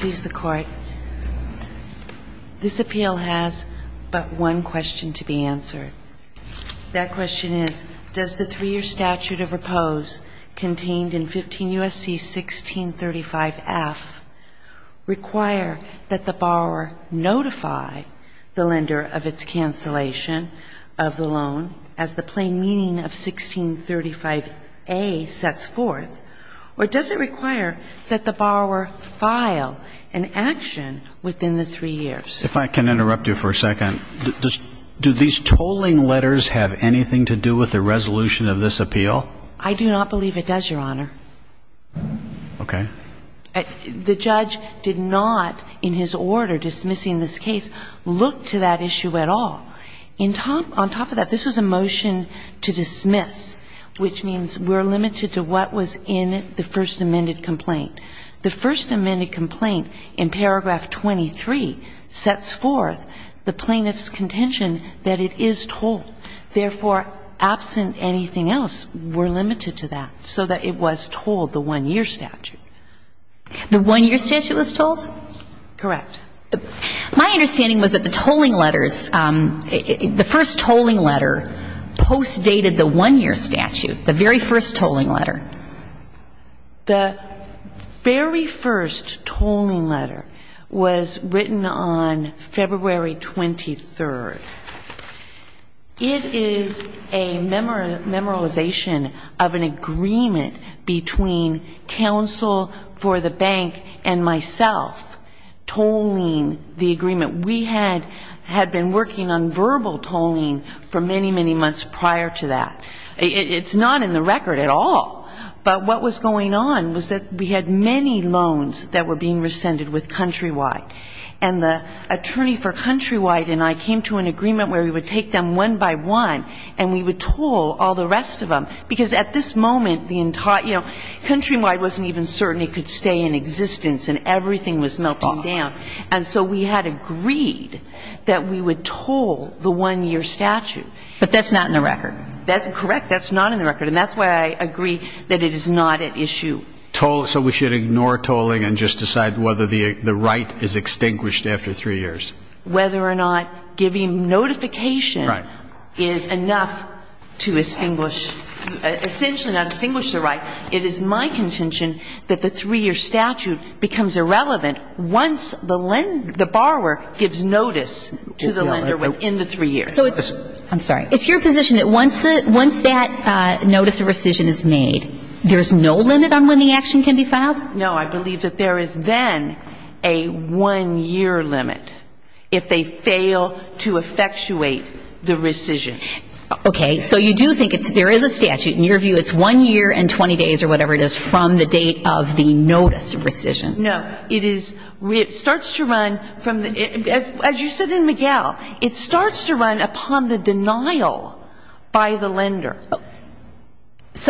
Does the three-year statute of repose contained in 15 U.S.C. 1635F require that the borrower notify the lender of its cancellation of the loan as the plain meaning of 1635A sets forth, or does it require that the borrower file an action within the three years? If I can interrupt you for a second, do these tolling letters have anything to do with the resolution of this appeal? I do not believe it does, Your Honor. Okay. The judge did not, in his order dismissing this case, look to that issue at all. On top of that, this was a motion to dismiss, which means we're limited to what was in the first amended complaint. The first amended complaint in paragraph 23 sets forth the plaintiff's contention that it is tolled. Therefore, absent anything else, we're limited to that so that it was tolled, the one-year statute. The one-year statute was tolled? Correct. My understanding was that the tolling letters, the first tolling letter postdated the one-year statute, the very first tolling letter. The very first tolling letter was written on February 23rd. It is a memorization of an agreement between counsel for the bank and myself tolling the agreement. We had been working on verbal tolling for many, many months prior to that. It's not in the record at all, but what was going on was that we had many loans that were being rescinded with Countrywide. And the attorney for Countrywide and I came to an agreement where we would take them one by one and we would toll all the rest of them. Because at this moment, Countrywide wasn't even certain it could stay in existence and everything was melting down. And so we had agreed that we would toll the one-year statute. But that's not in the record. That's correct. That's not in the record. And that's why I agree that it is not at issue. So we should ignore tolling and just decide whether the right is extinguished after three years. Whether or not giving notification is enough to extinguish, essentially not extinguish the right. It is my contention that the three-year statute becomes irrelevant once the lender, the borrower, gives notice to the lender within the three years. I'm sorry. It's your position that once that notice of rescission is made, there's no limit on when the action can be filed? No. I believe that there is then a one-year limit if they fail to effectuate the rescission. Okay. So you do think there is a statute. In your view, it's one year and 20 days or whatever it is from the date of the notice of rescission. No. It is, it starts to run from the, as you said in Miguel, it starts to run upon the denial by the lender.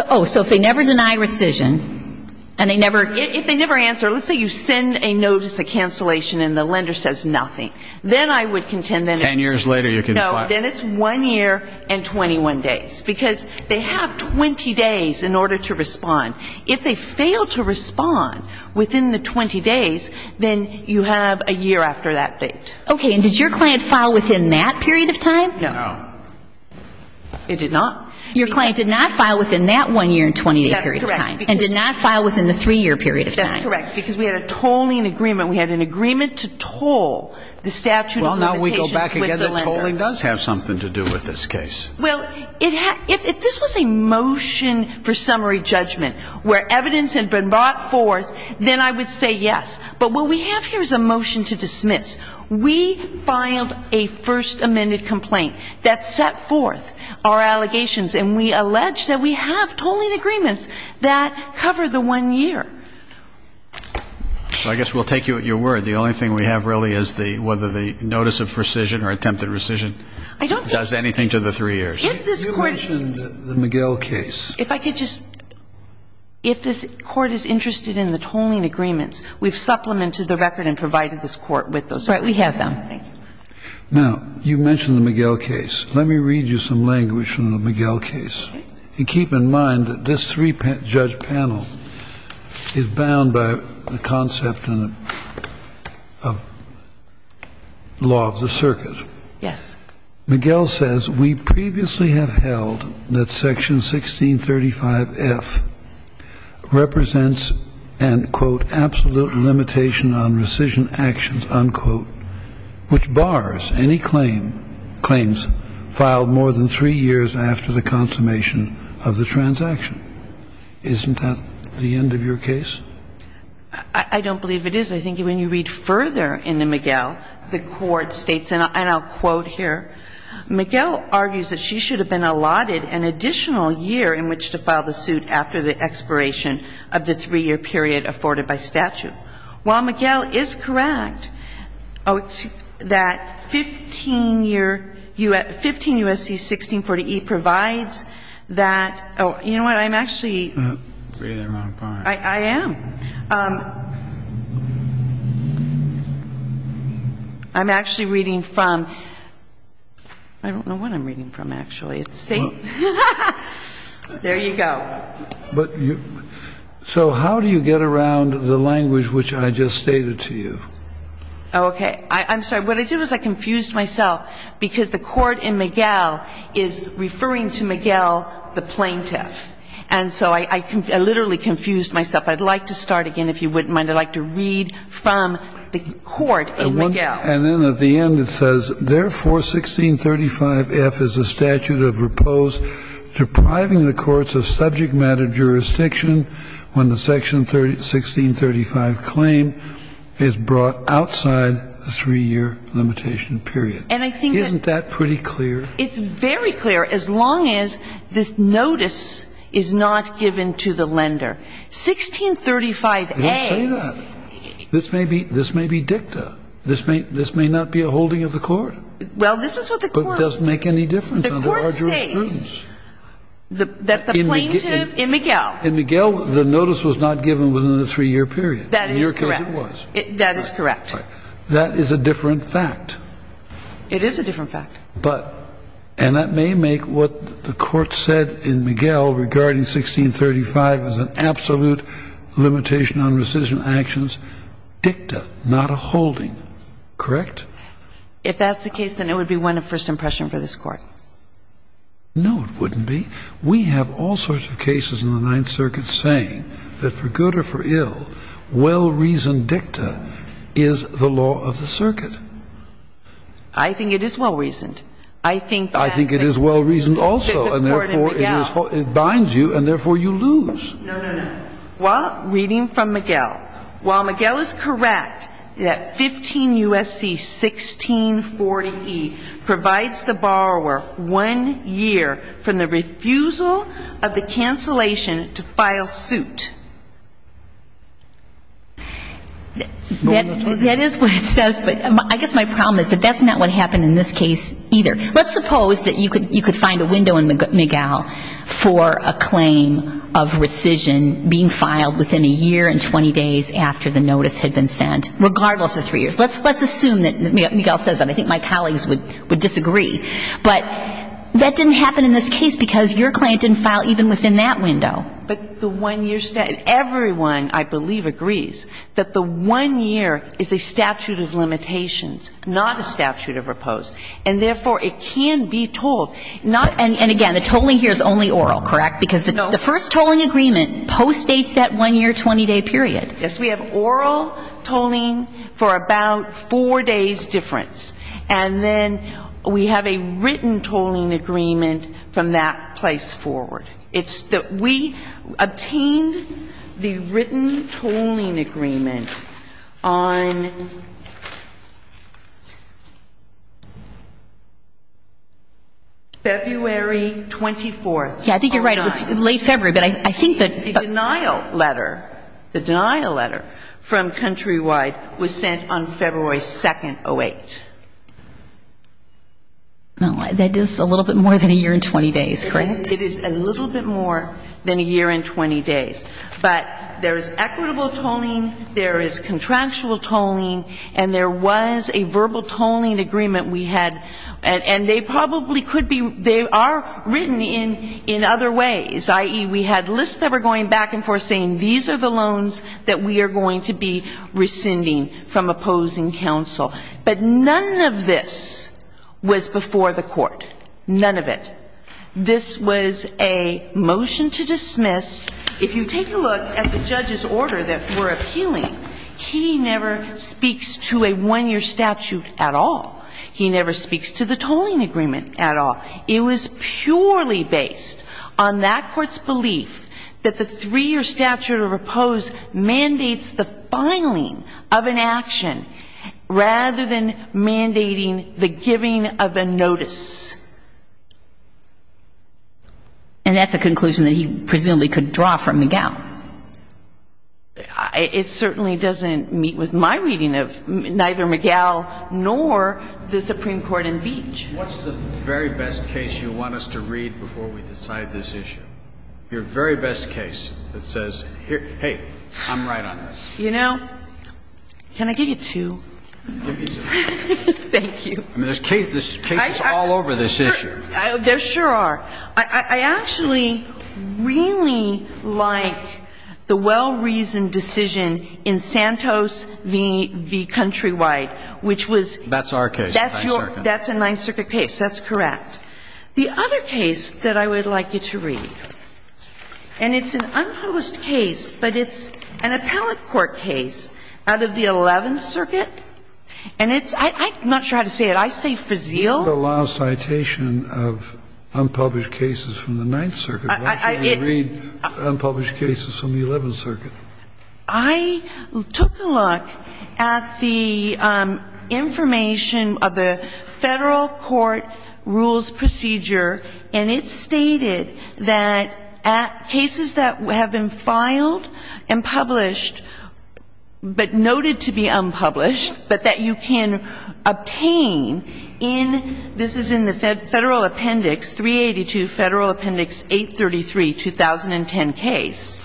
Oh. So if they never deny rescission and they never, if they never answer, let's say you send a notice of cancellation and the lender says nothing, then I would contend that it's Ten years later you can file. No. Then it's one year and 21 days. Because they have 20 days in order to respond. If they fail to respond within the 20 days, then you have a year after that date. Okay. And did your client file within that period of time? No. It did not. Your client did not file within that one year and 20 day period of time. That's correct. And did not file within the three-year period of time. That's correct. Because we had a tolling agreement. We had an agreement to toll the statute of limitations with the lender. Well, now we go back again. The tolling does have something to do with this case. Well, if this was a motion for summary judgment where evidence had been brought forth, then I would say yes. But what we have here is a motion to dismiss. We filed a first amended complaint that set forth our allegations, and we allege that we have tolling agreements that cover the one year. I guess we'll take you at your word. The only thing we have really is whether the notice of rescission or attempted rescission does anything to the three years. You mentioned the McGill case. If I could just, if this Court is interested in the tolling agreements, we've supplemented the record and provided this Court with those. Right. We have them. Now, you mentioned the McGill case. Let me read you some language from the McGill case. Okay. You keep in mind that this three-judge panel is bound by the concept of law of the circuit. Yes. McGill says, Isn't that the end of your case? I don't believe it is. I think when you read further in the McGill, the Court states, and I'll quote here, McGill argues that she should have been allotted an additional year in which to file the suit after the expiration of the three-year period afforded by statute. While McGill is correct that 15 year, 15 U.S.C. 1640E provides that, you know what, I'm actually, I am. I'm actually reading from, I don't know what I'm reading from, actually. There you go. So how do you get around the language which I just stated to you? Okay. I'm sorry. What I did was I confused myself because the Court in McGill is referring to McGill the plaintiff. And so I literally confused myself. I'd like to start again if you wouldn't mind. I'd like to read from the Court in McGill. And then at the end it says, Therefore, 1635F is a statute of repose depriving the courts of subject matter jurisdiction when the section 1635 claim is brought outside the three-year limitation period. And I think that's pretty clear. It's very clear as long as this notice is not given to the lender. 1635A. I didn't say that. This may be dicta. This may not be a holding of the Court. Well, this is what the Court. But it doesn't make any difference. The Court states that the plaintiff in McGill. In McGill the notice was not given within the three-year period. That is correct. In your case it was. That is correct. That is a different fact. It is a different fact. And that may make what the Court said in McGill regarding 1635 as an absolute limitation on rescission actions dicta, not a holding. Correct? If that's the case, then it would be one of first impression for this Court. No, it wouldn't be. We have all sorts of cases in the Ninth Circuit saying that for good or for ill, I think it is well-reasoned. I think it is well-reasoned also. And therefore, it binds you, and therefore you lose. No, no, no. Well, reading from McGill, while McGill is correct that 15 U.S.C. 1640E provides the borrower one year from the refusal of the cancellation to file suit. That is what it says, but I guess my problem is that that's not what happened in this case either. Let's suppose that you could find a window in McGill for a claim of rescission being filed within a year and 20 days after the notice had been sent, regardless of three years. Let's assume that McGill says that. I think my colleagues would disagree. But that didn't happen in this case because your client didn't file even within that window. But the one-year statute. Everyone, I believe, agrees that the one year is a statute of limitations, not a statute of repose. And therefore, it can be tolled. And again, the tolling here is only oral, correct? No. Because the first tolling agreement postdates that one-year 20-day period. Yes. We have oral tolling for about four days' difference. And then we have a written tolling agreement from that place forward. It's that we obtained the written tolling agreement on February 24th. Yes, I think you're right. It was late February. But I think that the denial letter, the denial letter from Countrywide was sent on February 2nd, 08. No, that is a little bit more than a year and 20 days, correct? It is a little bit more than a year and 20 days. But there is equitable tolling, there is contractual tolling, and there was a verbal tolling agreement we had. And they probably could be they are written in other ways, i.e., we had lists that were going back and forth saying these are the loans that we are going to be rescinding from opposing counsel. But none of this was before the Court. None of it. This was a motion to dismiss. If you take a look at the judge's order that we're appealing, he never speaks to a one-year statute at all. He never speaks to the tolling agreement at all. It was purely based on that Court's belief that the three-year statute of oppose mandates the filing of an action rather than mandating the giving of a notice. And that's a conclusion that he presumably could draw from McGow. It certainly doesn't meet with my reading of neither McGow nor the Supreme Court in Beach. What's the very best case you want us to read before we decide this issue? Your very best case that says, hey, I'm right on this. You know, can I give you two? Give me two. Thank you. I mean, there's cases all over this issue. There sure are. I actually really like the well-reasoned decision in Santos v. Countrywide, which was your case. That's our case. That's a Ninth Circuit case. That's correct. The other case that I would like you to read, and it's an unpublished case, but it's an appellate court case out of the Eleventh Circuit. And it's – I'm not sure how to say it. I say Frazeal. You have a law citation of unpublished cases from the Ninth Circuit. Why can't you read unpublished cases from the Eleventh Circuit? I took a look at the information of the Federal court rules procedure, and it stated that cases that have been filed and published but noted to be unpublished but that you can obtain in – this is in the Federal Appendix 382, Federal Appendix 833, 2010 case.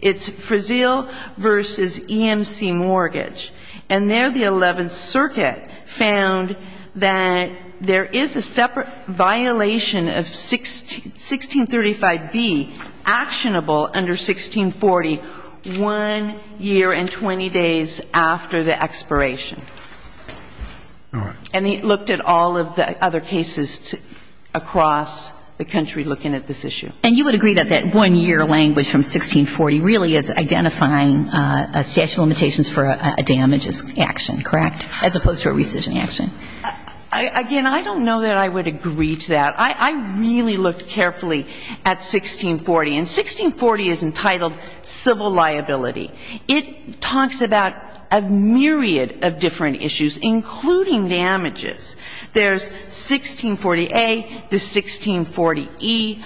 It's Frazeal v. EMC Mortgage. And there the Eleventh Circuit found that there is a separate violation of 1635b under 1640 one year and 20 days after the expiration. All right. And it looked at all of the other cases across the country looking at this issue. And you would agree that that one-year language from 1640 really is identifying a statute of limitations for a damages action, correct, as opposed to a rescission action? Again, I don't know that I would agree to that. I really looked carefully at 1640. And 1640 is entitled civil liability. It talks about a myriad of different issues, including damages. There's 1640a, there's 1640e.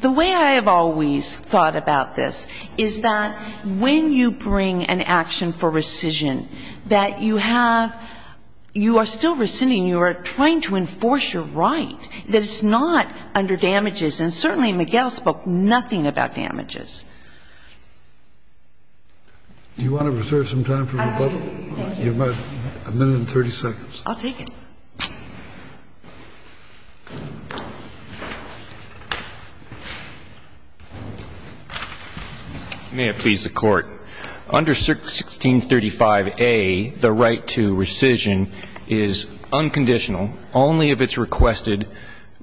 The way I have always thought about this is that when you bring an action for rescission that you have – you are still rescinding. You are trying to enforce your right that it's not under damages. And certainly McGill spoke nothing about damages. Do you want to reserve some time for rebuttal? Absolutely. Thank you. You have a minute and 30 seconds. I'll take it. May it please the Court. Under 1635a, the right to rescission is unconditional only if it's requested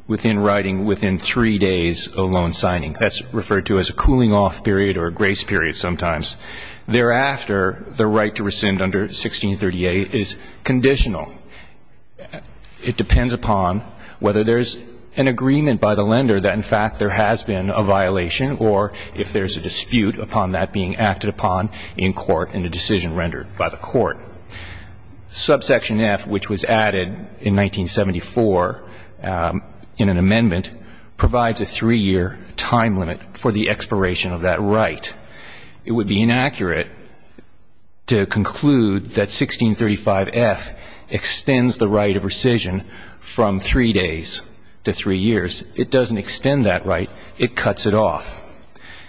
within writing within three days of loan signing. That's referred to as a cooling-off period or a grace period sometimes. Thereafter, the right to rescind under 1630a is conditional. It depends upon whether there's an agreement by the lender that, in fact, there has been a violation or if there's a dispute upon that being acted upon in court and a decision rendered by the court. Subsection F, which was added in 1974 in an amendment, provides a three-year time limit for the expiration of that right. It would be inaccurate to conclude that 1635f extends the right of rescission from three days to three years. It doesn't extend that right. It cuts it off.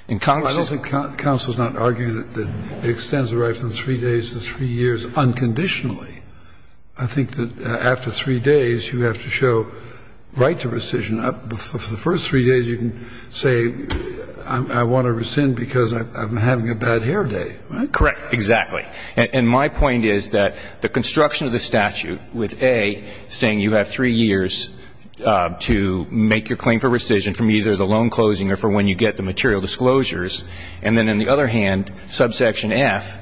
And Congress is not arguing that it extends the right from three days to three years unconditionally. I think that after three days, you have to show right to rescission. And for the first three days, you can say, I want to rescind because I'm having a bad hair day, right? Correct. Exactly. And my point is that the construction of the statute with A saying you have three years to make your claim for rescission from either the loan closing or from when you get the material disclosures, and then on the other hand, subsection F,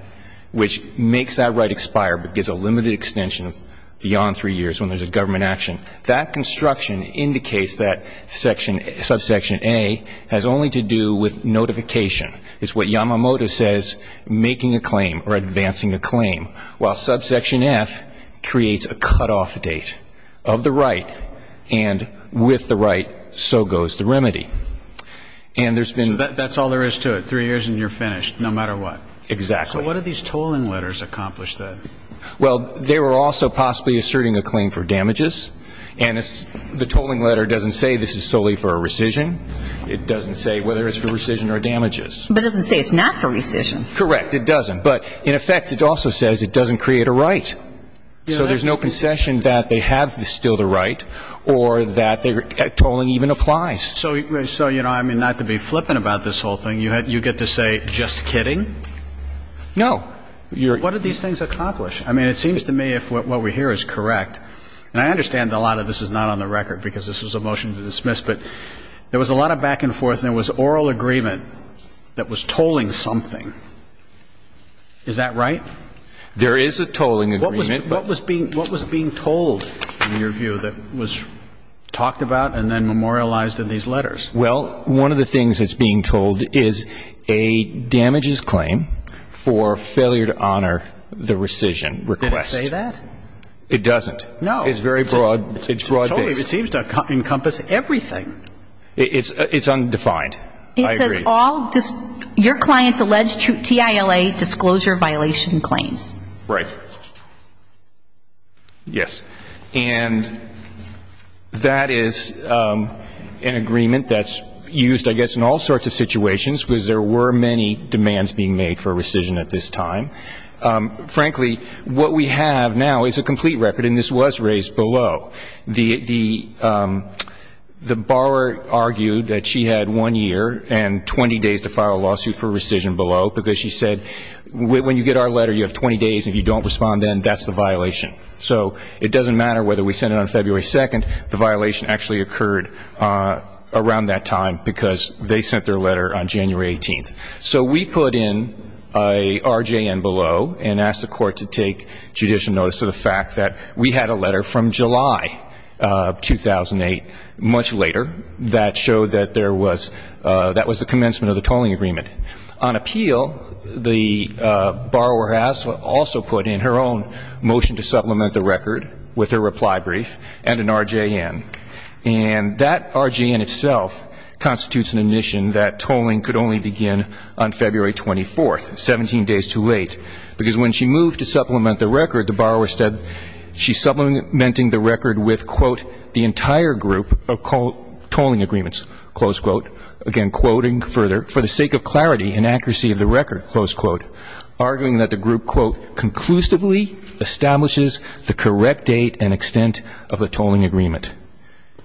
which makes that right expire but gives a limited extension beyond three years when there's a government action, that construction indicates that subsection A has only to do with notification. It's what Yamamoto says, making a claim or advancing a claim, while subsection F creates a cutoff date of the right, and with the right, so goes the remedy. And there's been ---- So that's all there is to it, three years and you're finished, no matter what. Exactly. So what do these tolling letters accomplish then? Well, they were also possibly asserting a claim for damages, and the tolling letter doesn't say this is solely for a rescission. It doesn't say whether it's for rescission or damages. But it doesn't say it's not for rescission. Correct. It doesn't. But in effect, it also says it doesn't create a right. So there's no concession that they have still the right or that tolling even applies. So, you know, I mean, not to be flippant about this whole thing, you get to say, just kidding? No. Well, what do these things accomplish? I mean, it seems to me if what we hear is correct, and I understand a lot of this is not on the record because this was a motion to dismiss, but there was a lot of back and forth and there was oral agreement that was tolling something. Is that right? There is a tolling agreement. What was being told in your view that was talked about and then memorialized in these letters? Well, one of the things that's being told is a damages claim for failure to honor the rescission request. Did it say that? It doesn't. No. It's very broad. It's broad-based. It seems to encompass everything. It's undefined. I agree. It says all your client's alleged TILA disclosure violation claims. Right. Yes. And that is an agreement that's used, I guess, in all sorts of situations because there were many demands being made for rescission at this time. Frankly, what we have now is a complete record, and this was raised below. The borrower argued that she had one year and 20 days to file a lawsuit for rescission below because she said when you get our letter, you have 20 days, and if you don't respond then, that's the violation. So it doesn't matter whether we send it on February 2nd, the violation actually occurred around that time because they sent their letter on January 18th. So we put in a RJN below and asked the court to take judicial notice of the fact that we had a letter from July 2008, much later, that showed that that was the commencement of the tolling agreement. On appeal, the borrower has also put in her own motion to supplement the record with her reply brief and an RJN. And that RJN itself constitutes an admission that tolling could only begin on February 24th, 17 days too late, because when she moved to supplement the record, the borrower said she's supplementing the record with, quote, the entire group of tolling agreements, close quote. Again, quoting further, for the sake of clarity and accuracy of the record, close quote, arguing that the group, quote, conclusively establishes the correct date and extent of the tolling agreement.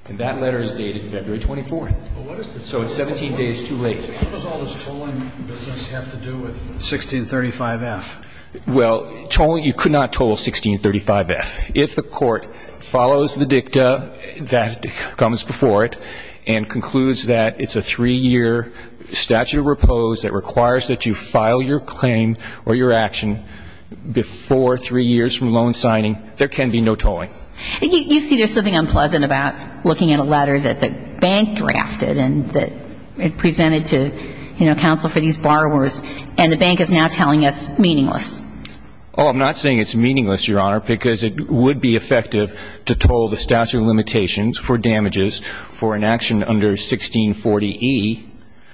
And that letter is dated February 24th. So it's 17 days too late. How does all this tolling business have to do with 1635F? Well, you could not toll 1635F. If the court follows the dicta that comes before it and concludes that it's a three-year statute of repose that requires that you file your claim or your action before three years from loan signing, there can be no tolling. You see, there's something unpleasant about looking at a letter that the bank drafted and that it presented to, you know, counsel for these borrowers, and the bank is now telling us meaningless. Oh, I'm not saying it's meaningless, Your Honor, because it would be effective to toll the statute of limitations for damages for an action under 1640E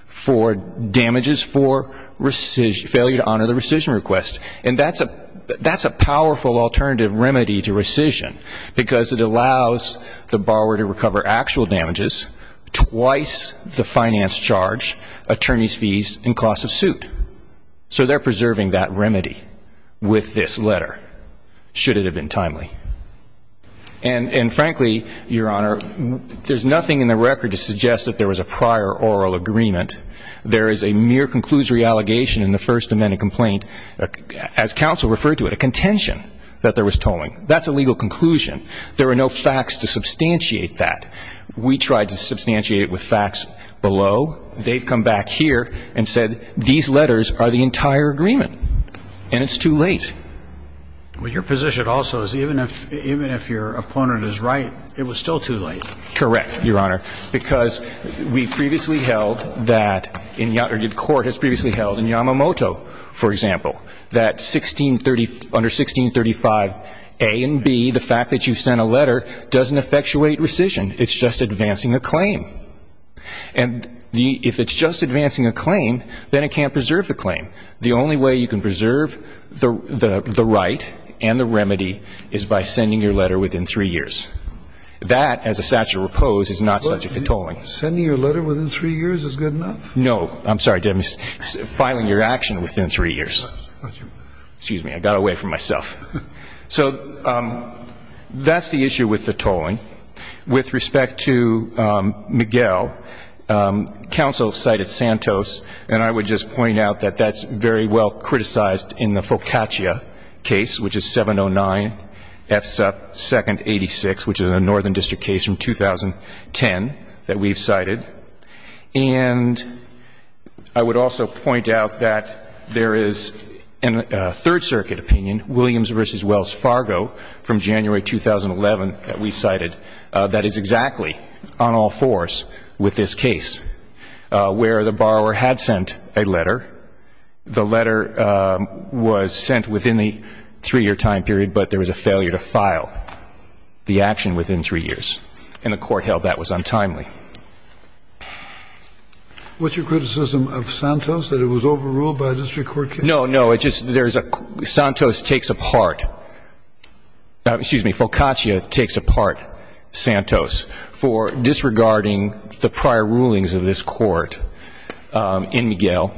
for damages for failure to honor the rescission request. And that's a powerful alternative remedy to rescission because it allows the borrower to recover actual damages twice the finance charge, attorney's fees, and cost of suit. So they're preserving that remedy with this letter. Should it have been timely? And frankly, Your Honor, there's nothing in the record to suggest that there was a prior oral agreement. There is a mere conclusory allegation in the First Amendment complaint, as counsel referred to it, a contention that there was tolling. That's a legal conclusion. There are no facts to substantiate that. We tried to substantiate it with facts below. They've come back here and said these letters are the entire agreement, and it's too late. Well, your position also is even if your opponent is right, it was still too late. Correct, Your Honor, because we previously held that, or the Court has previously held in Yamamoto, for example, that under 1635A and B, the fact that you've sent a letter doesn't effectuate rescission. It's just advancing a claim. And if it's just advancing a claim, then it can't preserve the claim. The only way you can preserve the right and the remedy is by sending your letter within three years. That, as a statute of repose, is not subject to tolling. Well, sending your letter within three years is good enough. No. I'm sorry, Dennis. Filing your action within three years. Excuse me. I got away from myself. So that's the issue with the tolling. With respect to Miguel, counsel cited Santos, and I would just point out that that's very well criticized in the Focaccia case, which is 709F2nd86, which is a northern district case from 2010 that we've cited. And I would also point out that there is a Third Circuit opinion, Williams v. Wells Fargo from January 2011 that we cited, that is exactly on all fours with this case, where the borrower had sent a letter. The letter was sent within the three-year time period, but there was a failure to file the action within three years, and the Court held that was untimely. What's your criticism of Santos, that it was overruled by a district court case? No, no. It's just there's a ---- Santos takes apart ---- excuse me, Focaccia takes apart Santos for disregarding the prior rulings of this court in Miguel,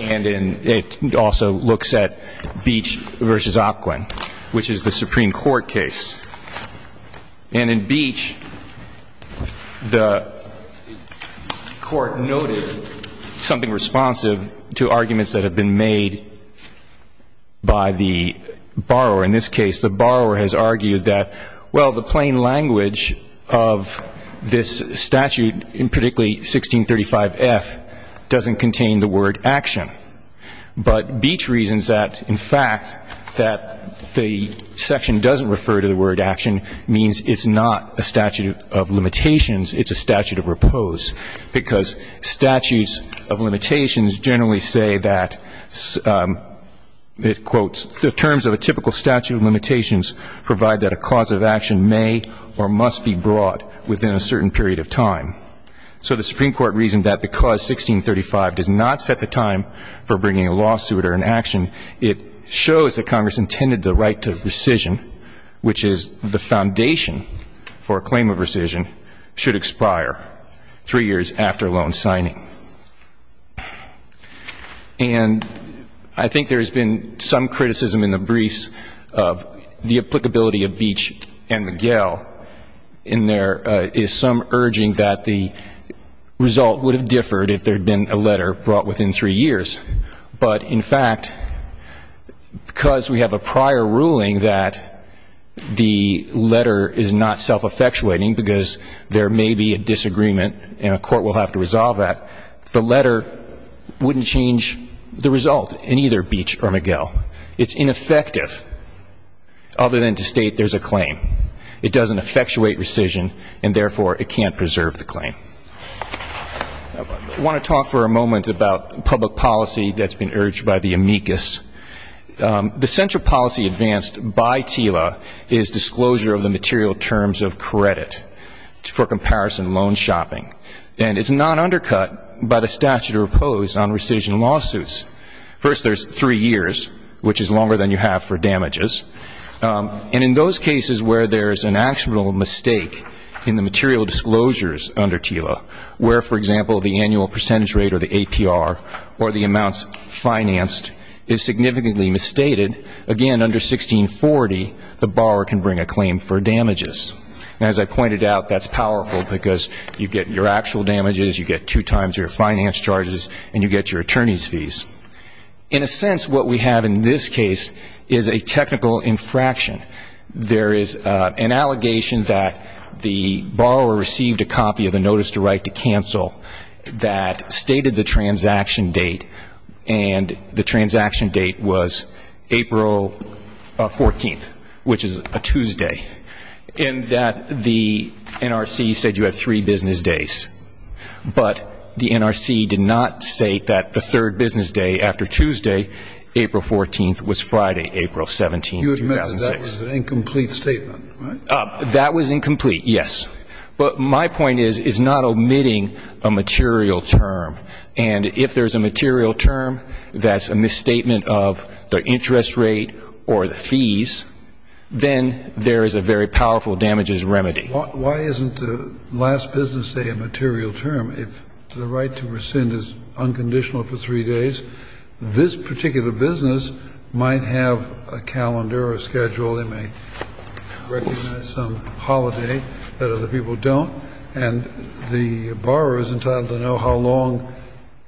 and it also looks at Beach v. Aquin, which is the Supreme Court case. And in Beach, the Court noted something responsive to arguments that have been made by the borrower. In this case, the borrower has argued that, well, the plain language of this statute, and particularly 1635F, doesn't contain the word action. But Beach reasons that, in fact, that the section doesn't refer to the word action means it's not a statute of limitations, it's a statute of repose, because statutes of limitations generally say that, it quotes, the terms of a typical statute of limitations provide that a cause of action may or must be brought within a certain period of time. So the Supreme Court reasoned that because 1635 does not set the time for bringing a lawsuit or an action, it shows that Congress intended the right to rescission, which is the foundation for a claim of rescission, should expire three years after loan signing. And I think there has been some criticism in the briefs of the applicability of Beach and Miguel, and there is some urging that the result would have differed if there had been a letter brought within three years. But, in fact, because we have a prior ruling that the letter is not self-effectuating, because there may be a disagreement and a court will have to resolve that, the letter wouldn't change the result in either Beach or Miguel. It's ineffective, other than to state there's a claim. It doesn't effectuate rescission, and, therefore, it can't preserve the claim. I want to talk for a moment about public policy that's been urged by the amicus. The central policy advanced by TILA is disclosure of the material terms of credit for comparison loan shopping. And it's not undercut by the statute of repose on rescission lawsuits. First, there's three years, which is longer than you have for damages. And in those cases where there's an actual mistake in the material disclosures under TILA, where, for example, the annual percentage rate or the APR or the amounts financed is significantly misstated, again, under 1640, the borrower can bring a claim for damages. And, as I pointed out, that's powerful because you get your actual damages, you get two times your finance charges, and you get your attorney's fees. In a sense, what we have in this case is a technical infraction. There is an allegation that the borrower received a copy of the notice to write to counsel that stated the transaction date, and the transaction date was April 14th, which is a Tuesday, in that the NRC said you have three business days. But the NRC did not say that the third business day after Tuesday, April 14th, was Friday, April 17th, 2006. You admitted that was an incomplete statement, right? That was incomplete, yes. But my point is, is not omitting a material term. And if there's a material term that's a misstatement of the interest rate or the fees, then there is a very powerful damages remedy. Why isn't the last business day a material term if the right to rescind is unconditional for three days? This particular business might have a calendar or a schedule. They may recognize some holiday that other people don't. And the borrower is entitled to know how long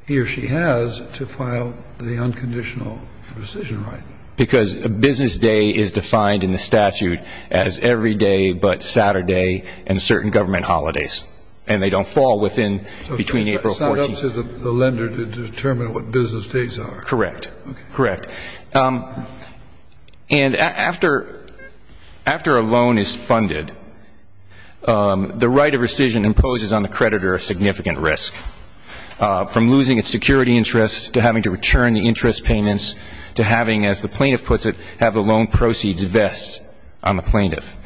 he or she has to file the unconditional rescission right. Because a business day is defined in the statute as every day but Saturday and certain government holidays. And they don't fall within, between April 14th. So it's not up to the lender to determine what business days are. Correct. Correct. And after a loan is funded, the right of rescission imposes on the creditor a significant risk, from losing its security interests to having to return the interest payments to having, as the plaintiff puts it, have the loan proceeds vest on the plaintiff.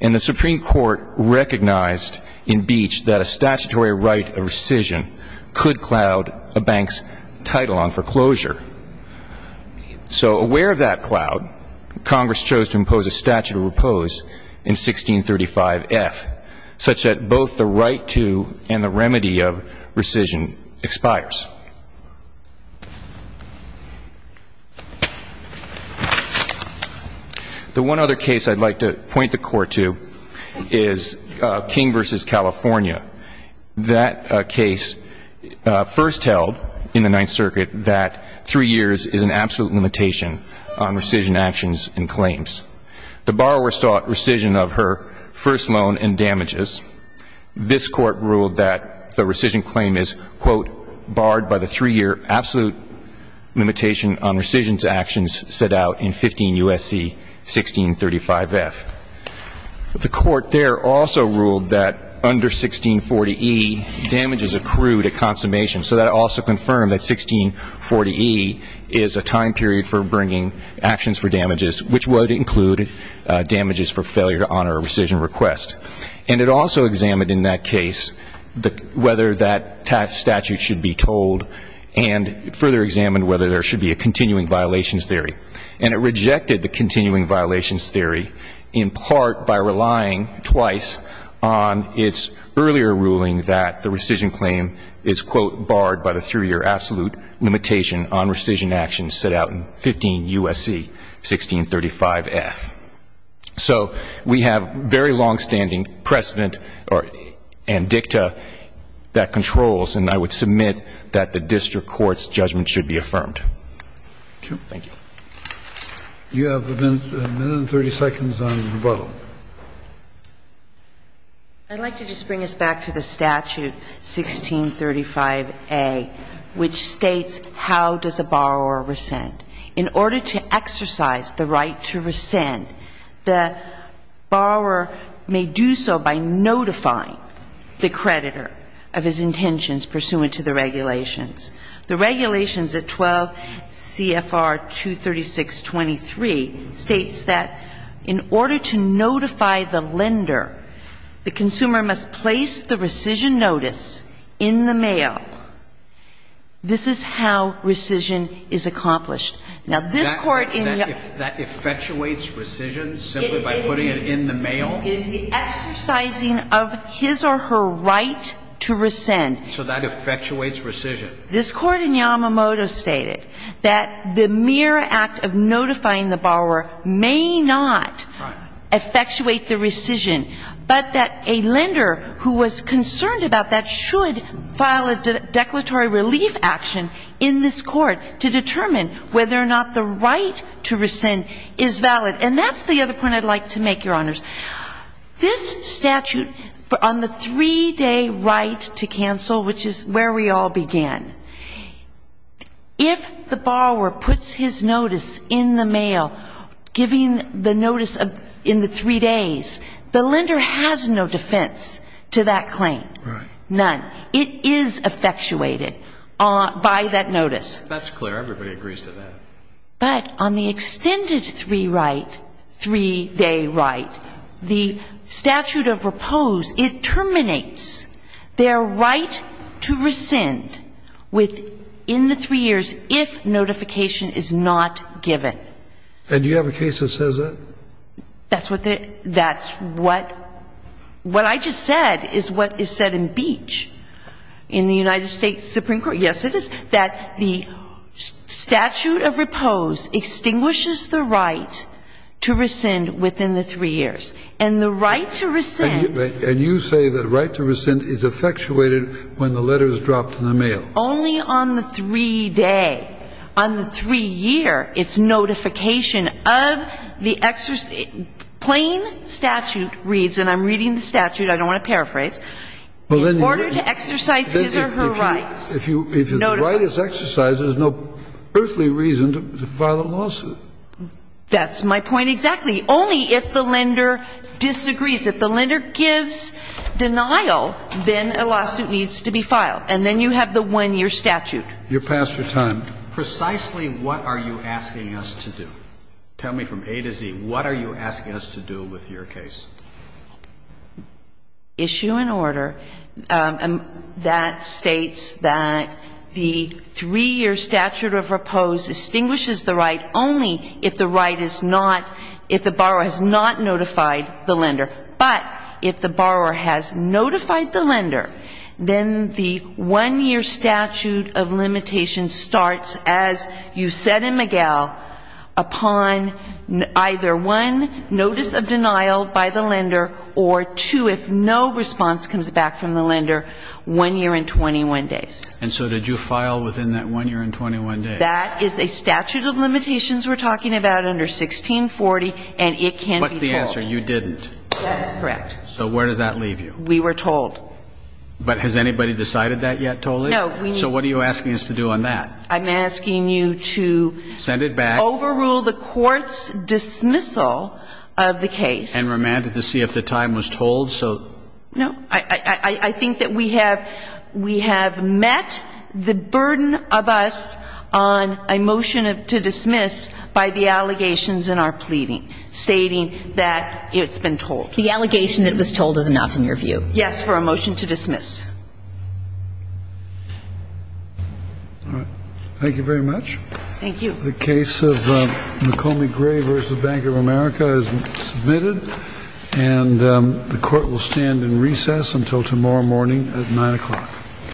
And the Supreme Court recognized in Beach that a statutory right of rescission could cloud a bank's title on foreclosure. So aware of that cloud, Congress chose to impose a statute of repose in 1635F, such that both the right to and the remedy of rescission expires. The one other case I'd like to point the Court to is King v. California. That case first held in the Ninth Circuit that three years is an absolute limitation on rescission actions and claims. The borrower sought rescission of her first loan and damages. This Court ruled that the rescission claim is, quote, barred by the three-year absolute limitation on rescissions actions set out in 15 U.S.C. 1635F. The Court there also ruled that under 1640E, damages accrue to consummation. So that also confirmed that 1640E is a time period for bringing actions for damages, which would include damages for failure to honor a rescission request. And it also examined in that case whether that statute should be told and further examined whether there should be a continuing violations theory. And it rejected the continuing violations theory, in part, by relying twice on its earlier ruling that the rescission claim is, quote, barred by the three-year absolute limitation on rescission actions set out in 15 U.S.C. 1635F. So we have very longstanding precedent and dicta that controls, and I would submit that the district court's judgment should be affirmed. Thank you. You have a minute and 30 seconds on rebuttal. I'd like to just bring us back to the statute 1635A, which states how does a borrower rescind. In order to exercise the right to rescind, the borrower may do so by notifying the creditor of his intentions pursuant to the regulations. The regulations at 12 CFR 236.23 states that in order to notify the lender, the consumer must place the rescission notice in the mail. This is how rescission is accomplished. Now, this Court in the ---- That effectuates rescission simply by putting it in the mail? It is the exercising of his or her right to rescind. So that effectuates rescission. This Court in Yamamoto stated that the mere act of notifying the borrower may not effectuate the rescission, but that a lender who was concerned about that should file a declaratory relief action in this Court to determine whether or not the right to rescind is valid. And that's the other point I'd like to make, Your Honors. This statute, on the three-day right to cancel, which is where we all began, if the borrower puts his notice in the mail, giving the notice in the three days, the lender has no defense to that claim. Right. None. It is effectuated by that notice. That's clear. Everybody agrees to that. But on the extended three-day right, the statute of repose, it terminates the three-day right to rescind within the three years if notification is not given. And do you have a case that says that? That's what the — that's what — what I just said is what is said in Beach in the United States Supreme Court. Yes, it is, that the statute of repose extinguishes the right to rescind within the three years. And the right to rescind — And you say the right to rescind is effectuated when the letter is dropped in the mail. Only on the three-day. On the three-year, it's notification of the — plain statute reads, and I'm reading the statute, I don't want to paraphrase, in order to exercise his or her rights. If the right is exercised, there's no earthly reason to file a lawsuit. That's my point exactly. Only if the lender disagrees. If the lender gives denial, then a lawsuit needs to be filed. And then you have the one-year statute. You're past your time. Precisely what are you asking us to do? Tell me from A to Z, what are you asking us to do with your case? Issue an order that states that the three-year statute of repose extinguishes the right only if the right is not — if the borrower has not notified the lender. But if the borrower has notified the lender, then the one-year statute of limitation starts, as you said in McGill, upon either one, notice of denial by the lender, or two, if no response comes back from the lender, one year and 21 days. And so did you file within that one year and 21 days? That is a statute of limitations we're talking about under 1640, and it can be told. What's the answer? You didn't. That is correct. So where does that leave you? We were told. But has anybody decided that yet totally? No. So what are you asking us to do on that? I'm asking you to — Send it back. — overrule the court's dismissal of the case. And remand it to see if the time was told, so — No. I think that we have — we have met the burden of us on a motion to dismiss by the allegations in our pleading stating that it's been told. The allegation that it was told is enough in your view? Yes, for a motion to dismiss. All right. Thank you very much. Thank you. The case of McCombie Gray v. Bank of America is submitted. And the court will stand in recess until tomorrow morning at 9 o'clock.